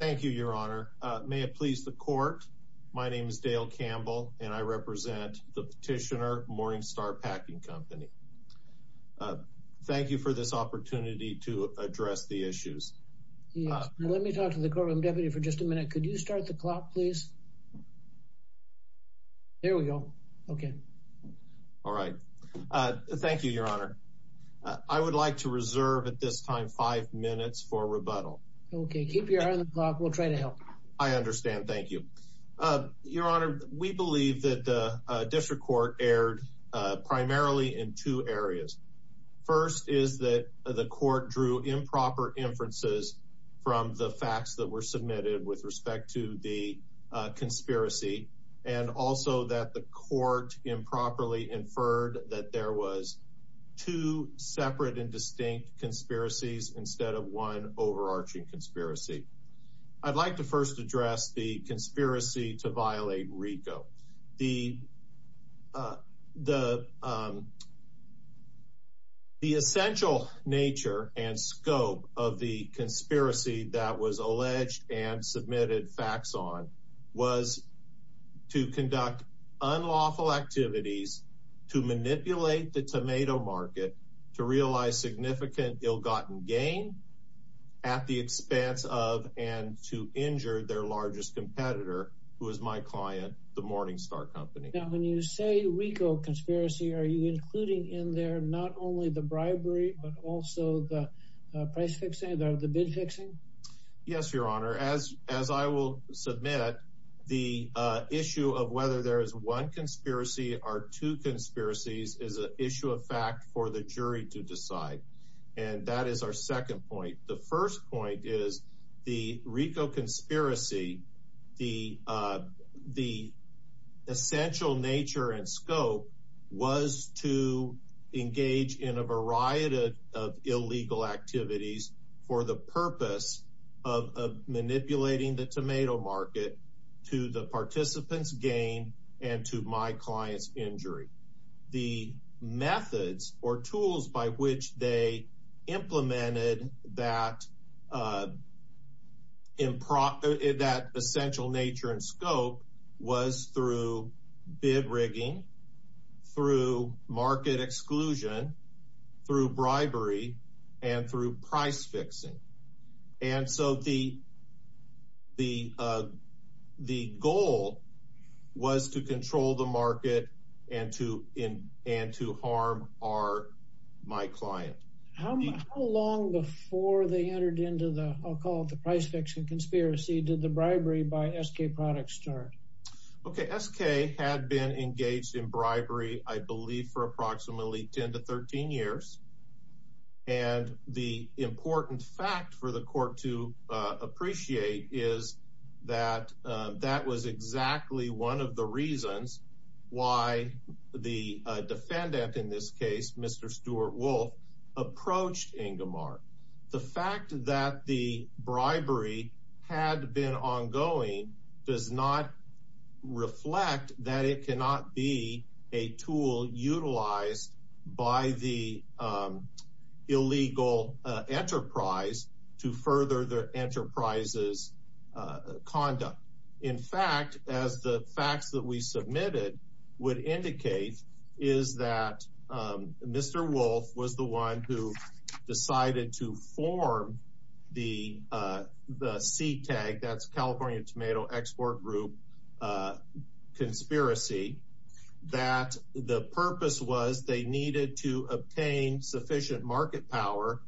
Thank you, your honor. May it please the court. My name is Dale Campbell and I represent the petitioner Morning Star Packing Company. Thank you for this opportunity to address the issues. Let me talk to the courtroom deputy for just a minute. Could you start the clock, please? There we go. Okay. All right. Thank you, your honor. I would like to reserve at this time five minutes for rebuttal. Okay, keep your eye on the clock. We'll try to help. I understand. Thank you, your honor. We believe that the district court erred primarily in two areas. First is that the court drew improper inferences from the facts that were submitted with respect to the conspiracy and also that the court improperly inferred that there was two separate and distinct conspiracies instead of one overarching conspiracy. I'd like to first address the conspiracy to violate RICO. The essential nature and scope of the conspiracy that was alleged and submitted facts on was to conduct unlawful activities to manipulate the significant ill-gotten gain at the expense of and to injure their largest competitor, who is my client, the Morning Star Company. Now, when you say RICO conspiracy, are you including in there not only the bribery but also the price fixing, the bid fixing? Yes, your honor. As I will submit, the issue of whether there is one conspiracy or two conspiracies is an issue of fact for the jury to decide. And that is our second point. The first point is the RICO conspiracy, the essential nature and scope was to engage in a variety of illegal activities for the purpose of manipulating the tomato market to the participant's gain and to my client's methods or tools by which they implemented that essential nature and scope was through bid rigging, through market exclusion, through bribery, and through price fixing. And so the goal was to control the market and to harm my client. How long before they entered into the, I'll call it the price fixing conspiracy, did the bribery by SK Products start? Okay, SK had been engaged in bribery, I believe, for approximately 10 to 13 years. And the important fact for the court to appreciate is that that was exactly one of the reasons why the defendant, in this case, Mr. Stuart Wolf, approached Ingomar. The fact that the bribery had been ongoing does not reflect that it cannot be a tool utilized by the illegal enterprise to further the enterprise's conduct. In fact, as the facts that we submitted would indicate, is that Mr. Wolf was the one who decided to form the CTAG, that's California Tomato Export Group Conspiracy, that the purpose was they needed to obtain sufficient market power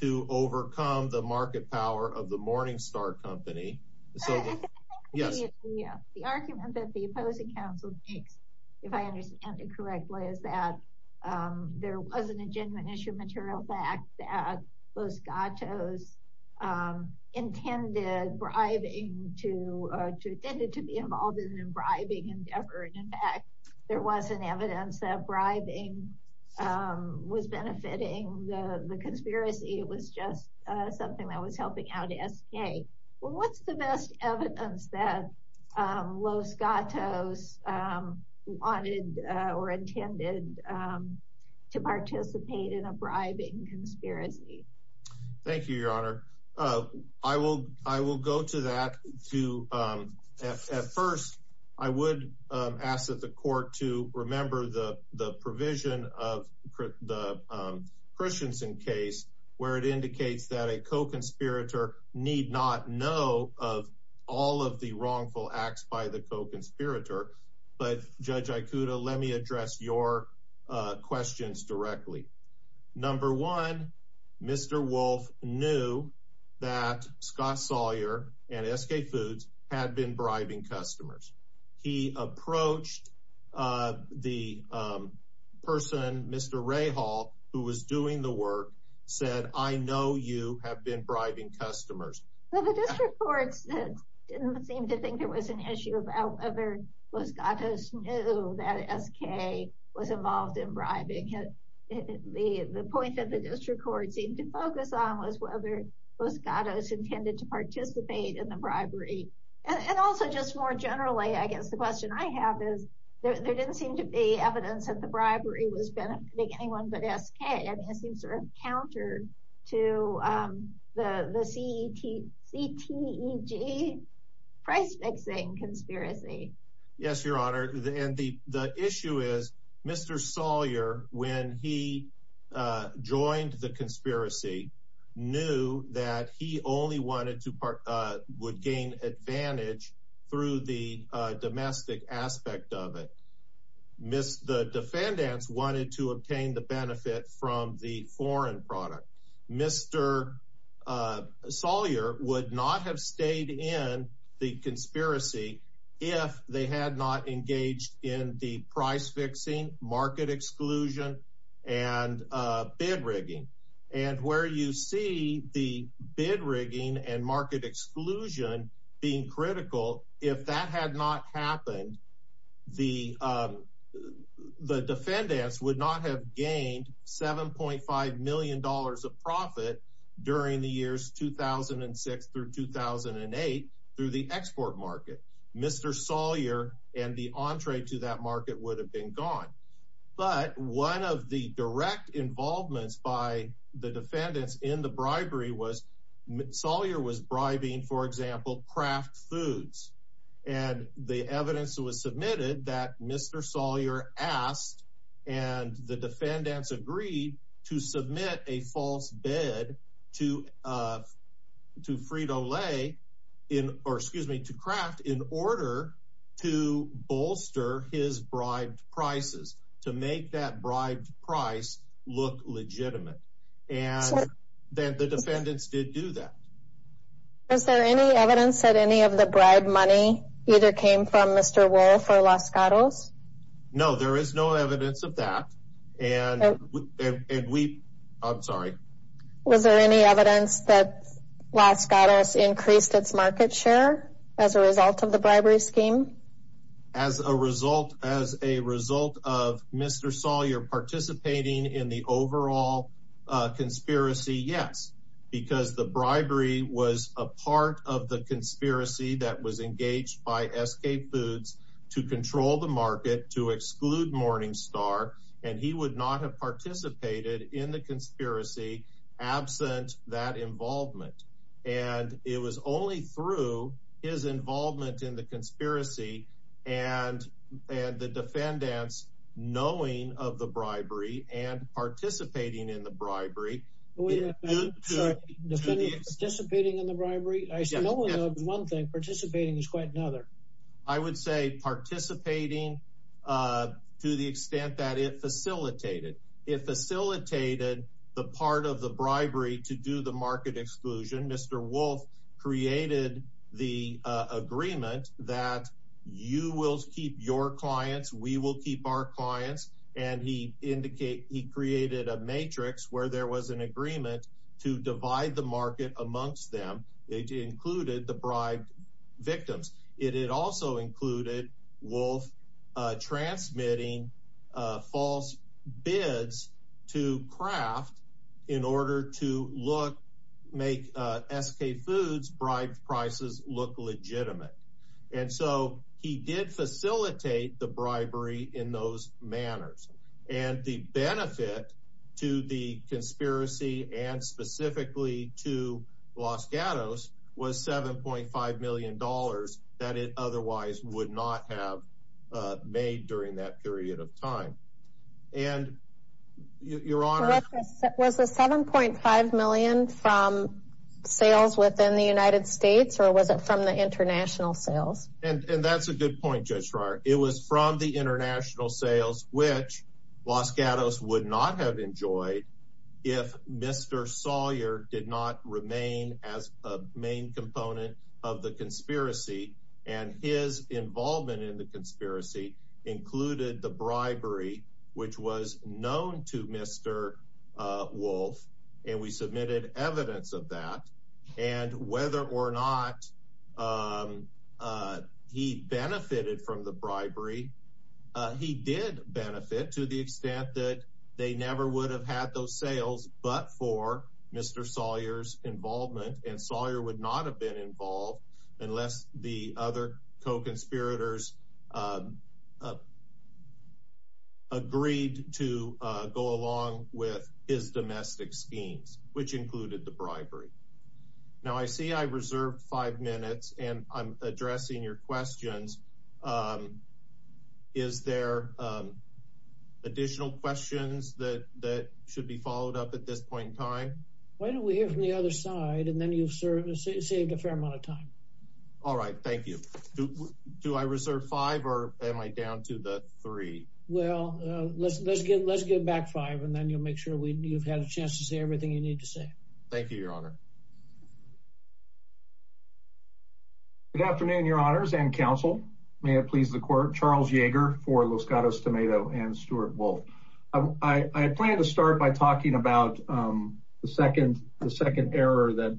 to overcome the market power of the Morningstar Company. Yes. The argument that the opposing counsel makes, if I understand it correctly, is that there wasn't a genuine issue of material fact that Los Gatos intended bribing to be involved in a bribing endeavor. And in fact, there wasn't evidence that bribing was benefiting the conspiracy, it was just something that was helping out SK. Well, what's the best evidence that Los Gatos wanted or intended to participate in a bribing conspiracy? Thank you, Your Honor. I will go to that. At first, I would ask that the court to remember the provision of the Christensen case, where it indicates that a co-conspirator need not know of all of the wrongful acts by the co-conspirator. But Judge Ikuda, let me address your questions directly. Number one, Mr. Wolf knew that Scott Sawyer and SK Foods had been bribing customers. He approached the person, Mr. Rahal, who was doing the work, said, I know you have been bribing customers. The district courts didn't seem to think there was an issue about whether Los Gatos knew that SK was involved in bribing. The point that the district court seemed to focus on was whether Los Gatos intended to participate in the bribery. And also, just more generally, I guess the question I have is, there didn't seem to be evidence that the bribery was anyone but SK. I mean, it seems sort of counter to the CTEG price-fixing conspiracy. Yes, Your Honor. And the issue is, Mr. Sawyer, when he joined the conspiracy, knew that he only would gain advantage through the domestic aspect of it. The defendants wanted to obtain the benefit from the foreign product. Mr. Sawyer would not have stayed in the conspiracy if they had not engaged in the price-fixing, market exclusion, and bid rigging. And where you see the bid rigging and market exclusion being critical, if that had not happened, the defendants would not have gained $7.5 million of profit during the years 2006 through 2008 through the export market. Mr. Sawyer and the entree to that market would have been gone. But one of the direct involvements by the defendants in the bribery was, Sawyer was bribing, for example, Kraft Foods. And the evidence was submitted that Mr. Sawyer asked, and the defendants agreed to submit a false bid to Frito-Lay, or excuse me, to Kraft in order to bolster his bribed prices, to make that bribed price look legitimate. And then the defendants did do that. Was there any evidence that any of the bribe money either came from Mr. Wohl for Los Gatos? No, there is no evidence of that. And we, I'm sorry. Was there any evidence that Los Gatos increased its market share as a result of the bribery scheme? As a result, as a result of Mr. Sawyer participating in the overall conspiracy, yes, because the bribery was a part of the conspiracy that was engaged by SK Foods to control the market to exclude Morningstar. And he would not have participated in the conspiracy absent that involvement. And it was only through his involvement in the conspiracy and the defendants knowing of the bribery and participating in the bribery. Sorry, participating in the bribery? I know of one thing, participating is quite another. I would say participating to the extent that it facilitated. It facilitated the part of the bribery to do the market exclusion. Mr. Wohl created the agreement that you will keep your clients, we will keep our clients. And he indicated he created a matrix where there was an agreement to divide the market amongst them. It included the bribed victims. It also included Wohl transmitting false bids to Kraft in order to look, make SK Foods bribed prices look legitimate. And so he did facilitate the bribery in those manners. And the benefit to the conspiracy and specifically to Los Gatos was $7.5 million that it otherwise would not have made during that period of time. And your honor, was the 7.5 million from sales within the United States or was it from the international sales? And that's a good point, Judge Schreier. It was from the international sales, which Los Gatos would not have enjoyed if Mr. Sawyer did not remain as a main component of the conspiracy. And his involvement in the conspiracy included the bribery, which was a, he benefited from the bribery. He did benefit to the extent that they never would have had those sales, but for Mr. Sawyer's involvement and Sawyer would not have been involved unless the other co-conspirators agreed to go along with his domestic schemes, which included the bribery. Now I see I reserved five minutes and I'm addressing your questions. Is there additional questions that should be followed up at this point in time? Why don't we hear from the other side and then you've served, saved a fair amount of time. All right. Thank you. Do I reserve five or am I down to the three? Well, let's, let's get, let's get back five and then you'll make sure we, you've had a chance to say everything you need to say. Thank you, your honor. Good afternoon, your honors and council. May it please the court, Charles Yeager for Los Gatos Tomato and Stuart Wolf. I plan to start by talking about the second, the second error that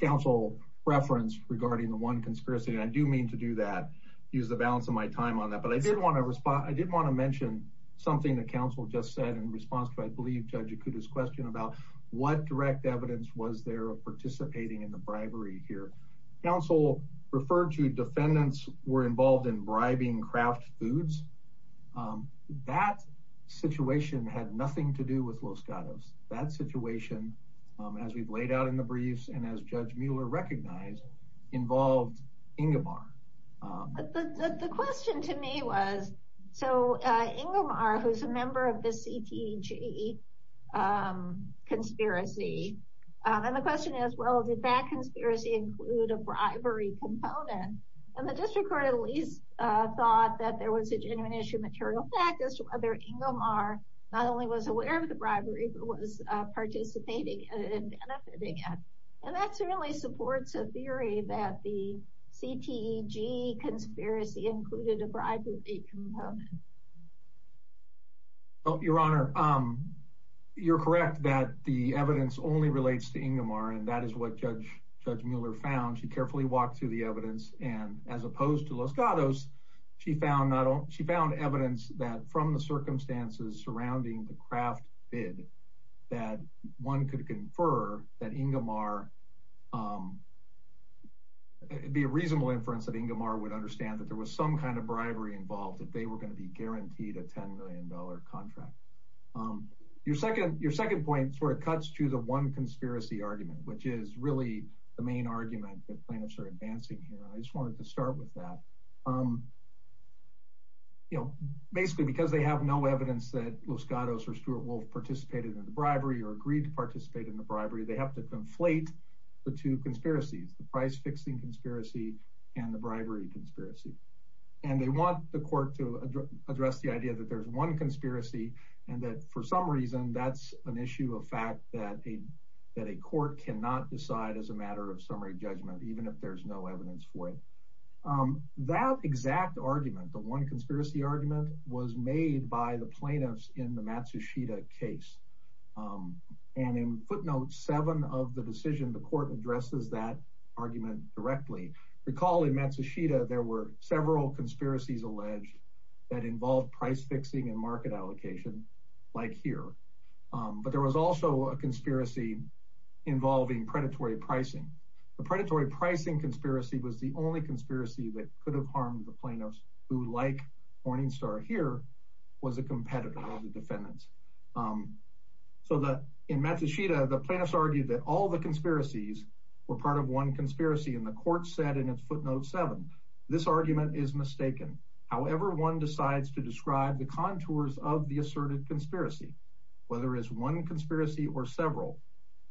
council referenced regarding the one conspiracy. And I do mean to do that, use the balance of my time on that, but I did want to respond. I did want to mention something that council just said in response to, I believe judge Akuta's question about what direct evidence was there of participating in the bribery here. Council referred to defendants were involved in bribing craft foods. That situation had nothing to do with Los Gatos. That situation, as we've laid out in the briefs and as judge Mueller recognized involved Ingimar. But the, the question to me was, so Ingimar, who's a member of the CTG conspiracy. And the question is, well, did that conspiracy include a bribery component? And the district court at least thought that there was a genuine issue of material factors, whether Ingimar not only was aware of the bribery, but was participating in benefiting it. And that's really supports a theory that the CTG conspiracy included a bribery. Oh, your honor. You're correct that the evidence only relates to Ingimar. And that is what judge judge Mueller found. She carefully walked through the evidence and as opposed to Los Gatos, she found that she found evidence that from the circumstances surrounding the craft bid, that one could confer that Ingimar be a reasonable inference that Ingimar would understand that there was some kind of bribery involved that they were going to be guaranteed a $10 million contract. Your second, your second point sort of cuts to the one conspiracy argument, which is really the main argument that plaintiffs are advancing here. I just wanted to start with that. You know, basically because they have no evidence that Los Gatos or Stuart Wolf participated in the bribery or agreed to participate in the bribery, they have to conflate the two conspiracies, the price fixing conspiracy and the bribery conspiracy. And they want the court to address the idea that there's one conspiracy. And that for some reason, that's an issue of fact that a, that a court cannot decide as a matter of summary judgment, even if there's no evidence for it. That exact argument, the one conspiracy argument was made by the plaintiffs in the Matsushita case. And in footnotes seven of the decision, the court addresses that argument directly. Recall in Matsushita, there were several conspiracies alleged that involved price fixing and market allocation like here. But there was also a conspiracy involving predatory pricing. The predatory pricing conspiracy was the only conspiracy that could have harmed the plaintiffs who like Morningstar here was a competitor of the defendants. So that in Matsushita, the plaintiffs argued that all the conspiracies were part of one conspiracy. And the court said in its footnote seven, this argument is mistaken. However, one decides to describe the contours of the asserted conspiracy, whether it's one conspiracy or several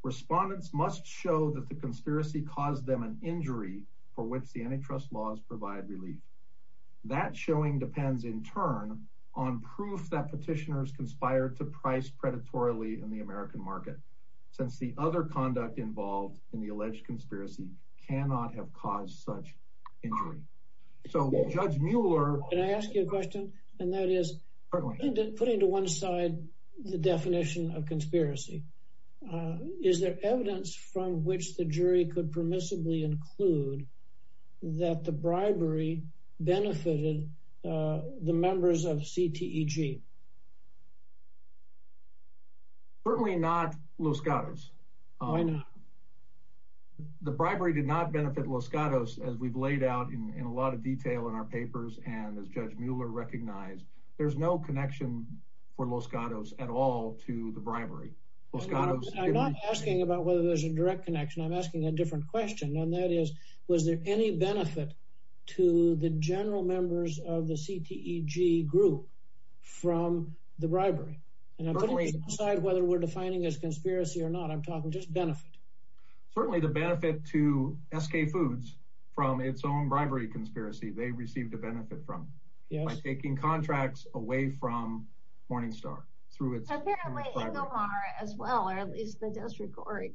respondents must show that the conspiracy caused them an injury for which the antitrust laws provide relief. That showing depends in turn on proof that petitioners conspired to price predatorily in the American market, since the other conduct involved in the alleged conspiracy cannot have caused such injury. So judge Mueller, can I ask you a question? And that is putting to one side, the definition of include that the bribery benefited the members of CTEG? Certainly not Los Gatos. The bribery did not benefit Los Gatos, as we've laid out in a lot of detail in our papers. And as Judge Mueller recognized, there's no connection for Los Gatos at all to the bribery. I'm not asking about whether there's a direct connection. I'm asking a different question. And that is, was there any benefit to the general members of the CTEG group from the bribery? And I'm putting aside whether we're defining as conspiracy or not, I'm talking just benefit. Certainly the benefit to SK foods from its own bribery conspiracy, they received a benefit from taking contracts away from Morningstar through its as well, or at least the district court.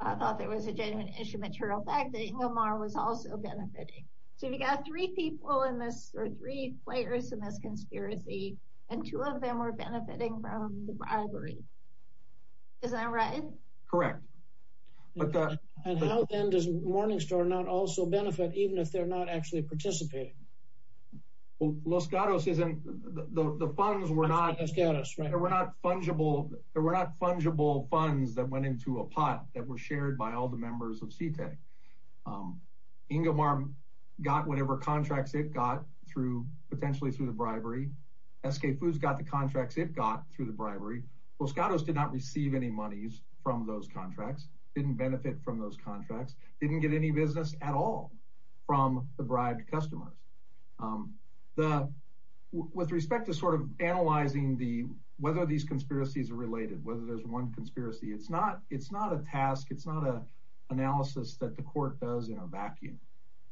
I thought there was a genuine issue material fact that Omar was also benefiting. So we got three people in this or three players in this conspiracy. And two of them were benefiting from the bribery. Is that right? Correct. And how does Morningstar not also benefit even if they're not actually participating? Well, Los Gatos isn't the funds were not as good as they were not fungible, they were not fungible funds that went into a pot that were shared by all the members of CTEG. Inga Martin got whatever contracts it got through potentially through the bribery. SK foods got the contracts it got through the bribery. Los Gatos did not receive any monies from those contracts didn't benefit from those contracts didn't get any business at all from the bribed customers. The with respect to sort of analyzing the whether these conspiracies are related, whether there's one conspiracy, it's not it's not a task. It's not a analysis that the court does in a vacuum.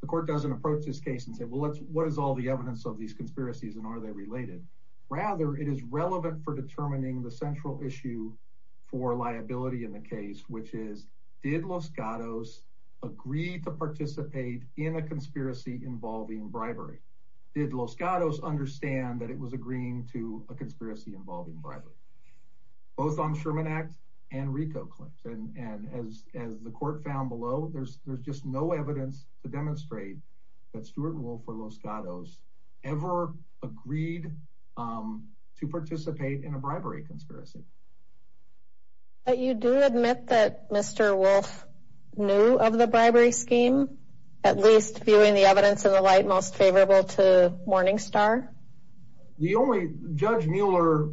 The court doesn't approach this case and say, well, let's what is all the evidence of these conspiracies? And are they related? Rather, it is relevant for determining the central issue for liability in the case, which is did Los Gatos agreed to participate in a conspiracy involving bribery? Did Los Gatos understand that it was agreeing to a conspiracy involving bribery, both on Sherman Act and Rico Clinton. And as as the court found below, there's there's just no evidence to demonstrate that Stuart Wolf or Los Gatos ever agreed to participate in a bribery conspiracy. But you do admit that Mr. Wolf knew of the bribery scheme, at least viewing the evidence in the light most favorable to Morningstar. The only Judge Mueller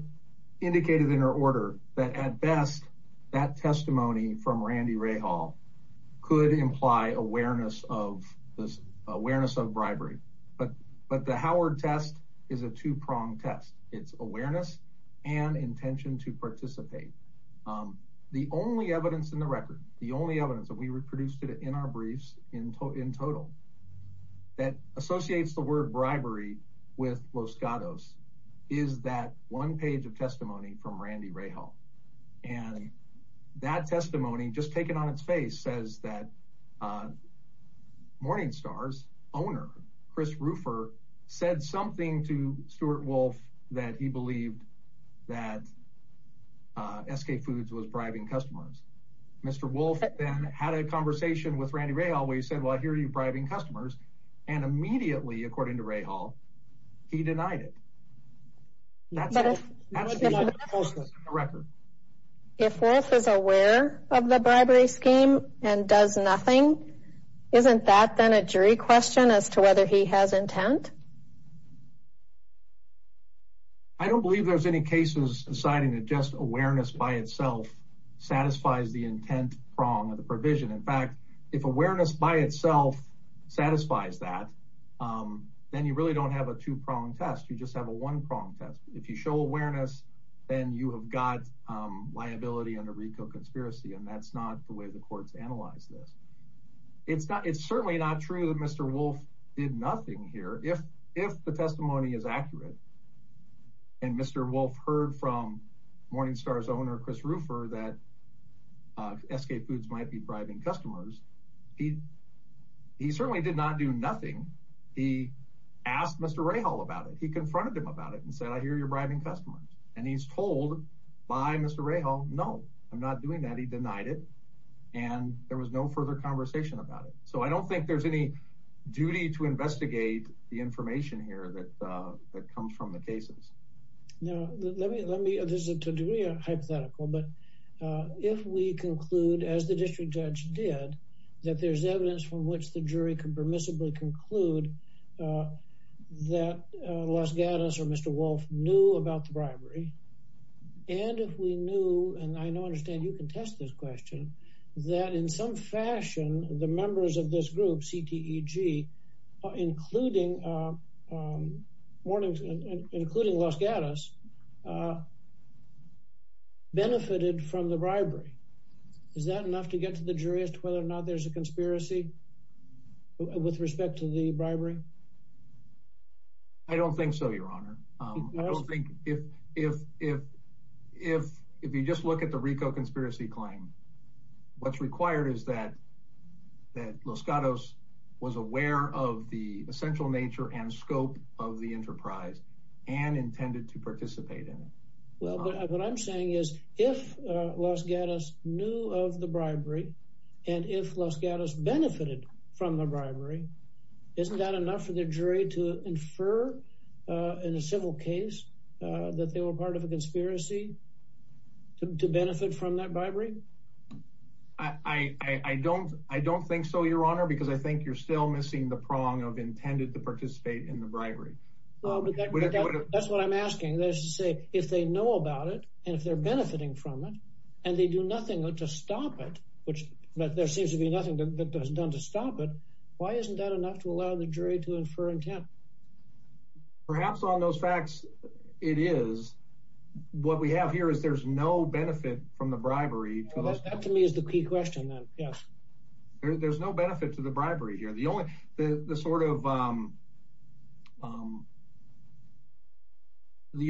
indicated in her order that at best, that testimony from Randy Rahal could imply awareness of this awareness of bribery. But but the Howard test is a two pronged test. It's awareness and intention to participate. The only evidence in the record, the only evidence that we reproduced in our briefs in total, that associates the word bribery with Los Gatos is that one page of testimony from Randy Rahal. And that testimony just taken on its face says that Morningstar's owner, Chris Ruffer, said something to Stuart Wolf that he believed that SK Foods was bribing customers. Mr. Wolf then had a conversation with Randy Rahal, where he said, Well, here are your bribing customers. And immediately, according to Rahal, he denied it. If Wolf is aware of the bribery scheme and does nothing, isn't that then a jury question as to whether he has intent? I don't believe there's any cases deciding that just awareness by itself satisfies the intent prong of the provision. In fact, if awareness by itself satisfies that, then you really don't have a two pronged test. You just have a one pronged test. If you show awareness, then you have got liability under RICO conspiracy. And that's not the way the courts analyze this. It's certainly not true that Mr. Wolf did nothing here. If the testimony is that SK Foods might be bribing customers, he certainly did not do nothing. He asked Mr. Rahal about it. He confronted him about it and said, I hear you're bribing customers. And he's told by Mr. Rahal, No, I'm not doing that. He denied it. And there was no further conversation about it. So I don't think there's any duty to investigate the information here that comes from the cases. Now, there's a degree of hypothetical, but if we conclude as the district judge did, that there's evidence from which the jury can permissibly conclude that Los Gatos or Mr. Wolf knew about the bribery. And if we knew, and I know, understand you can test this question, that in some fashion, the members of this group, CTEG, including Los Gatos, benefited from the bribery. Is that enough to get to the jury as to whether or not there's a conspiracy with respect to the bribery? I don't think so, your honor. I don't think if you just look at the RICO conspiracy claim, what's required is that Los Gatos was aware of the essential nature and scope of the enterprise and intended to participate in it. Well, what I'm saying is if Los Gatos knew of the bribery, and if Los Gatos benefited from the bribery, isn't that enough for the jury to infer in a civil case that they were part of a conspiracy to benefit from that bribery? I don't think so, your honor, because I think you're still missing the prong of intended to participate in the bribery. That's what I'm asking. That is to say, if they know about it, and if they're benefiting from it, and they do nothing to stop it, but there seems to be nothing that was done to stop it, why isn't that enough to allow the jury to infer intent? Perhaps on those facts, it is. What we have here is there's no benefit from the bribery. That to me is the key question then, yes. There's no benefit to the bribery here. The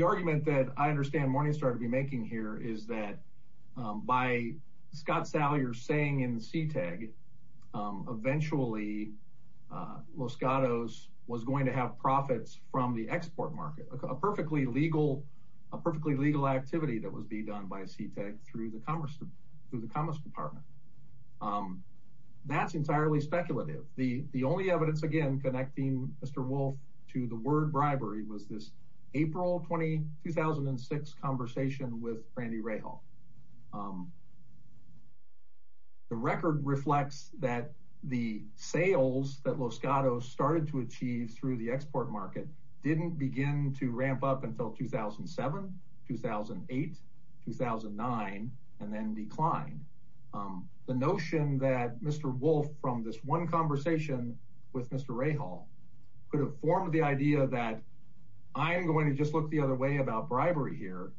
argument that I understand Morningstar to be making here is that by Scott Salyer saying CTEG, eventually Los Gatos was going to have profits from the export market, a perfectly legal activity that was being done by CTEG through the Commerce Department. That's entirely speculative. The only evidence, again, connecting Mr. Wolf to the word bribery was this April 2006 conversation with Randy Rahal. The record reflects that the sales that Los Gatos started to achieve through the export market didn't begin to ramp up until 2007, 2008, 2009, and then declined. The notion that Mr. Wolf from this one conversation with Mr. Rahal could have formed the idea that I'm going to just look the other way about bribery here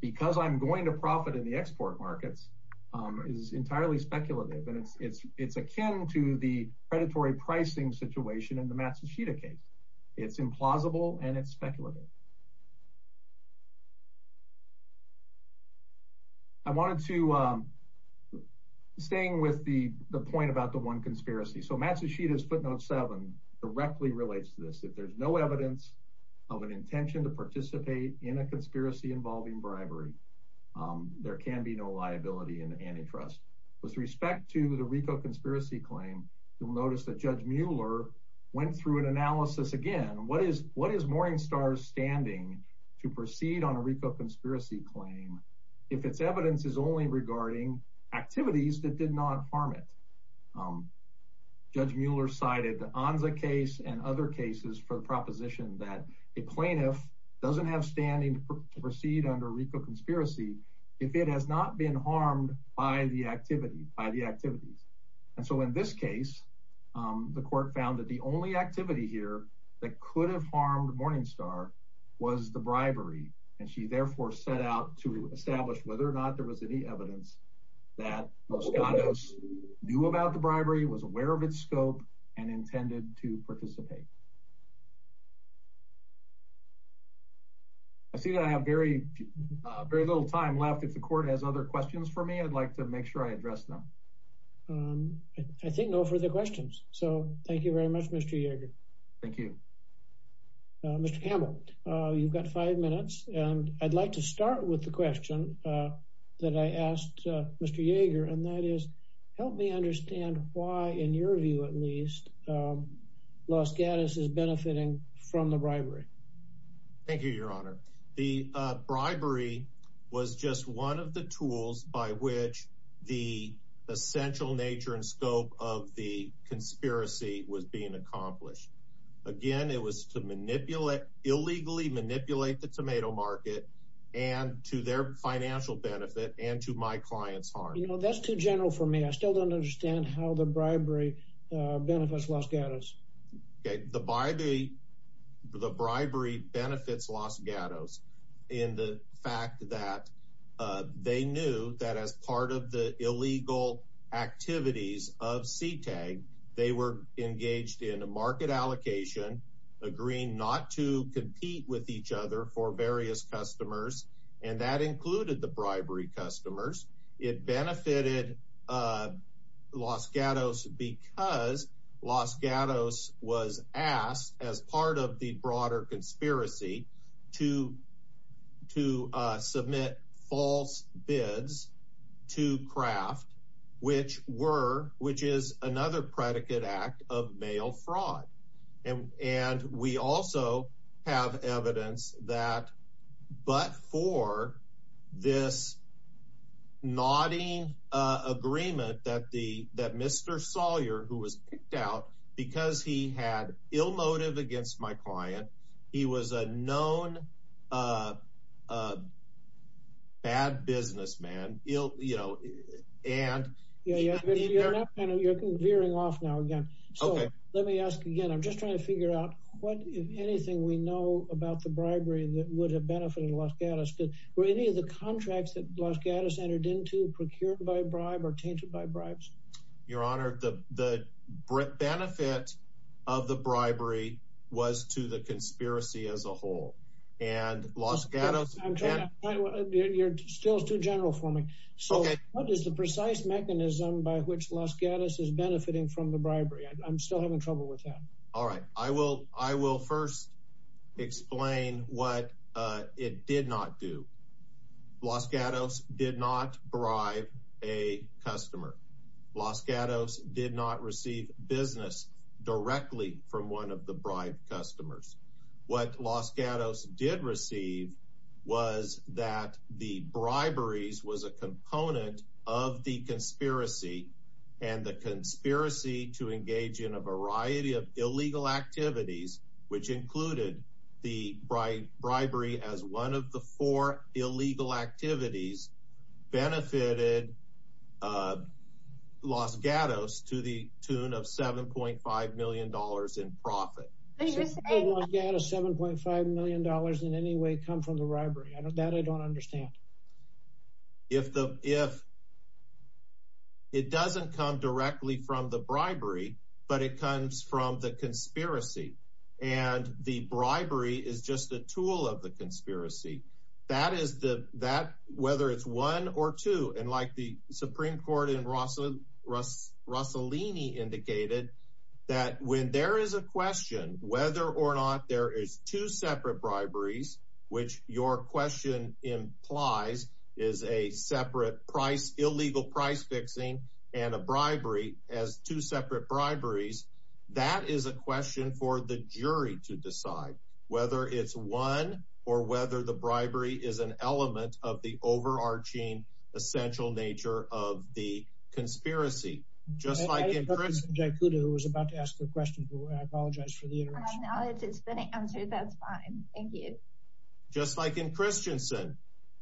because I'm going to profit in the export markets is entirely speculative. It's akin to the predatory pricing situation in the Matsushita case. It's implausible and it's speculative. I wanted to stay with the point about the one conspiracy. Matsushita's footnote seven directly relates to this. If there's no evidence of an intention to participate in a conspiracy involving bribery, there can be no liability in antitrust. With respect to the RICO conspiracy claim, you'll notice that Judge Mueller went through an analysis again. What is Morningstar's standing to proceed on a RICO conspiracy claim if its evidence is only regarding activities that did not harm it? Judge Mueller cited the Anza case and other cases for the proposition that a plaintiff doesn't have standing to proceed under RICO conspiracy if it has not been harmed by the activities. In this case, the court found that the only activity here that could have harmed Morningstar was the bribery. She therefore set out to establish whether or not there was any evidence that Moscondos knew about the bribery, was aware of its scope, and intended to participate. I see that I have very little time left. If the court has other questions for me, I'd like to make sure I address them. I think no further questions, so thank you very much, Mr. Yeager. Thank you. Mr. Campbell, you've got five minutes and I'd like to start with the question that I asked Mr. Yeager, and that is, help me understand why, in your view at least, Los Gatos is benefiting from the bribery. Thank you, Your Honor. The bribery was just one of the tools by which the essential nature and scope of the conspiracy was being accomplished. Again, it was to illegally manipulate the tomato market, and to their financial benefit, and to my client's harm. That's too general for me. I still don't understand how the bribery benefits Los Gatos. The bribery benefits Los Gatos in the fact that they knew that as part of the not to compete with each other for various customers, and that included the bribery customers, it benefited Los Gatos because Los Gatos was asked, as part of the broader conspiracy, to submit false bids to Kraft, which is another predicate act of mail fraud. And we also have evidence that, but for this nodding agreement that Mr. Sawyer, who was picked out because he had ill motive against my client, he was a known bad businessman. You're veering off now again. Let me ask again. I'm just trying to figure out what, if anything, we know about the bribery that would have benefited Los Gatos. Were any of the contracts that Los Gatos entered into procured by a bribe or tainted by bribes? Your Honor, the benefit of the bribery was to the conspiracy as a whole. And Los Gatos... You're still too general for me. So what is the precise mechanism by which Los Gatos is benefiting from the bribery? I'm still having trouble with that. All right. I will first explain what it did not do. Los Gatos did not bribe a customer. Los Gatos did not receive business directly from one of the bribed customers. What Los Gatos did receive was that the briberies was a component of the conspiracy and the conspiracy to engage in a variety of illegal activities, which included the bribery as one of the four illegal activities benefited Los Gatos to the tune of $7.5 million in profit. Did Los Gatos' $7.5 million in any way come from the bribery? That I don't understand. If it doesn't come directly from the bribery, but it comes from the conspiracy, and the bribery is just a tool of the conspiracy, whether it's one or two, and like the Supreme Court in Rossellini indicated that when there is a question whether or not there is two separate briberies, which your question implies is a separate price, illegal price fixing, and a bribery as two separate briberies, that is a question for the jury to decide whether it's one or whether the bribery is an element of the overarching essential nature of the conspiracy. Just like in Christensen,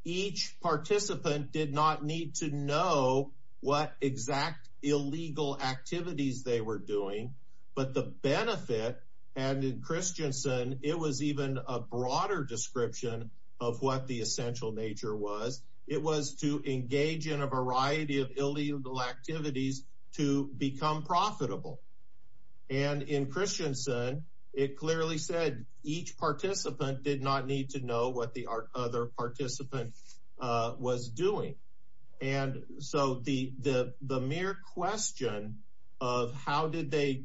each participant did not need to know what exact illegal activities they were doing, but the benefit, and in Christensen, it was even a broader description of what the essential nature was. It was to engage in a variety of illegal activities to become profitable. In Christensen, it clearly said each participant did not need to know what the other participant was doing, and so the mere question of how did they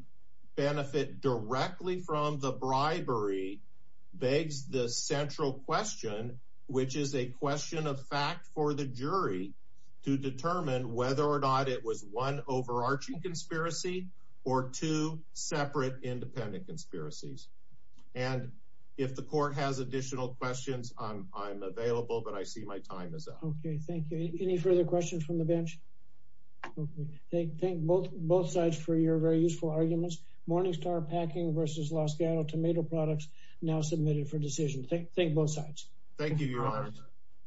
benefit directly from the bribery begs the central question, which is a question of fact for the jury to determine whether or not it was one overarching conspiracy or two separate independent conspiracies, and if the court has additional questions, I'm available, but I see my time is up. Okay, thank you. Any further questions from the bench? Okay, thank both sides for your very useful arguments. Morningstar Packing versus Los Gatos Tomato Products now submitted for decision.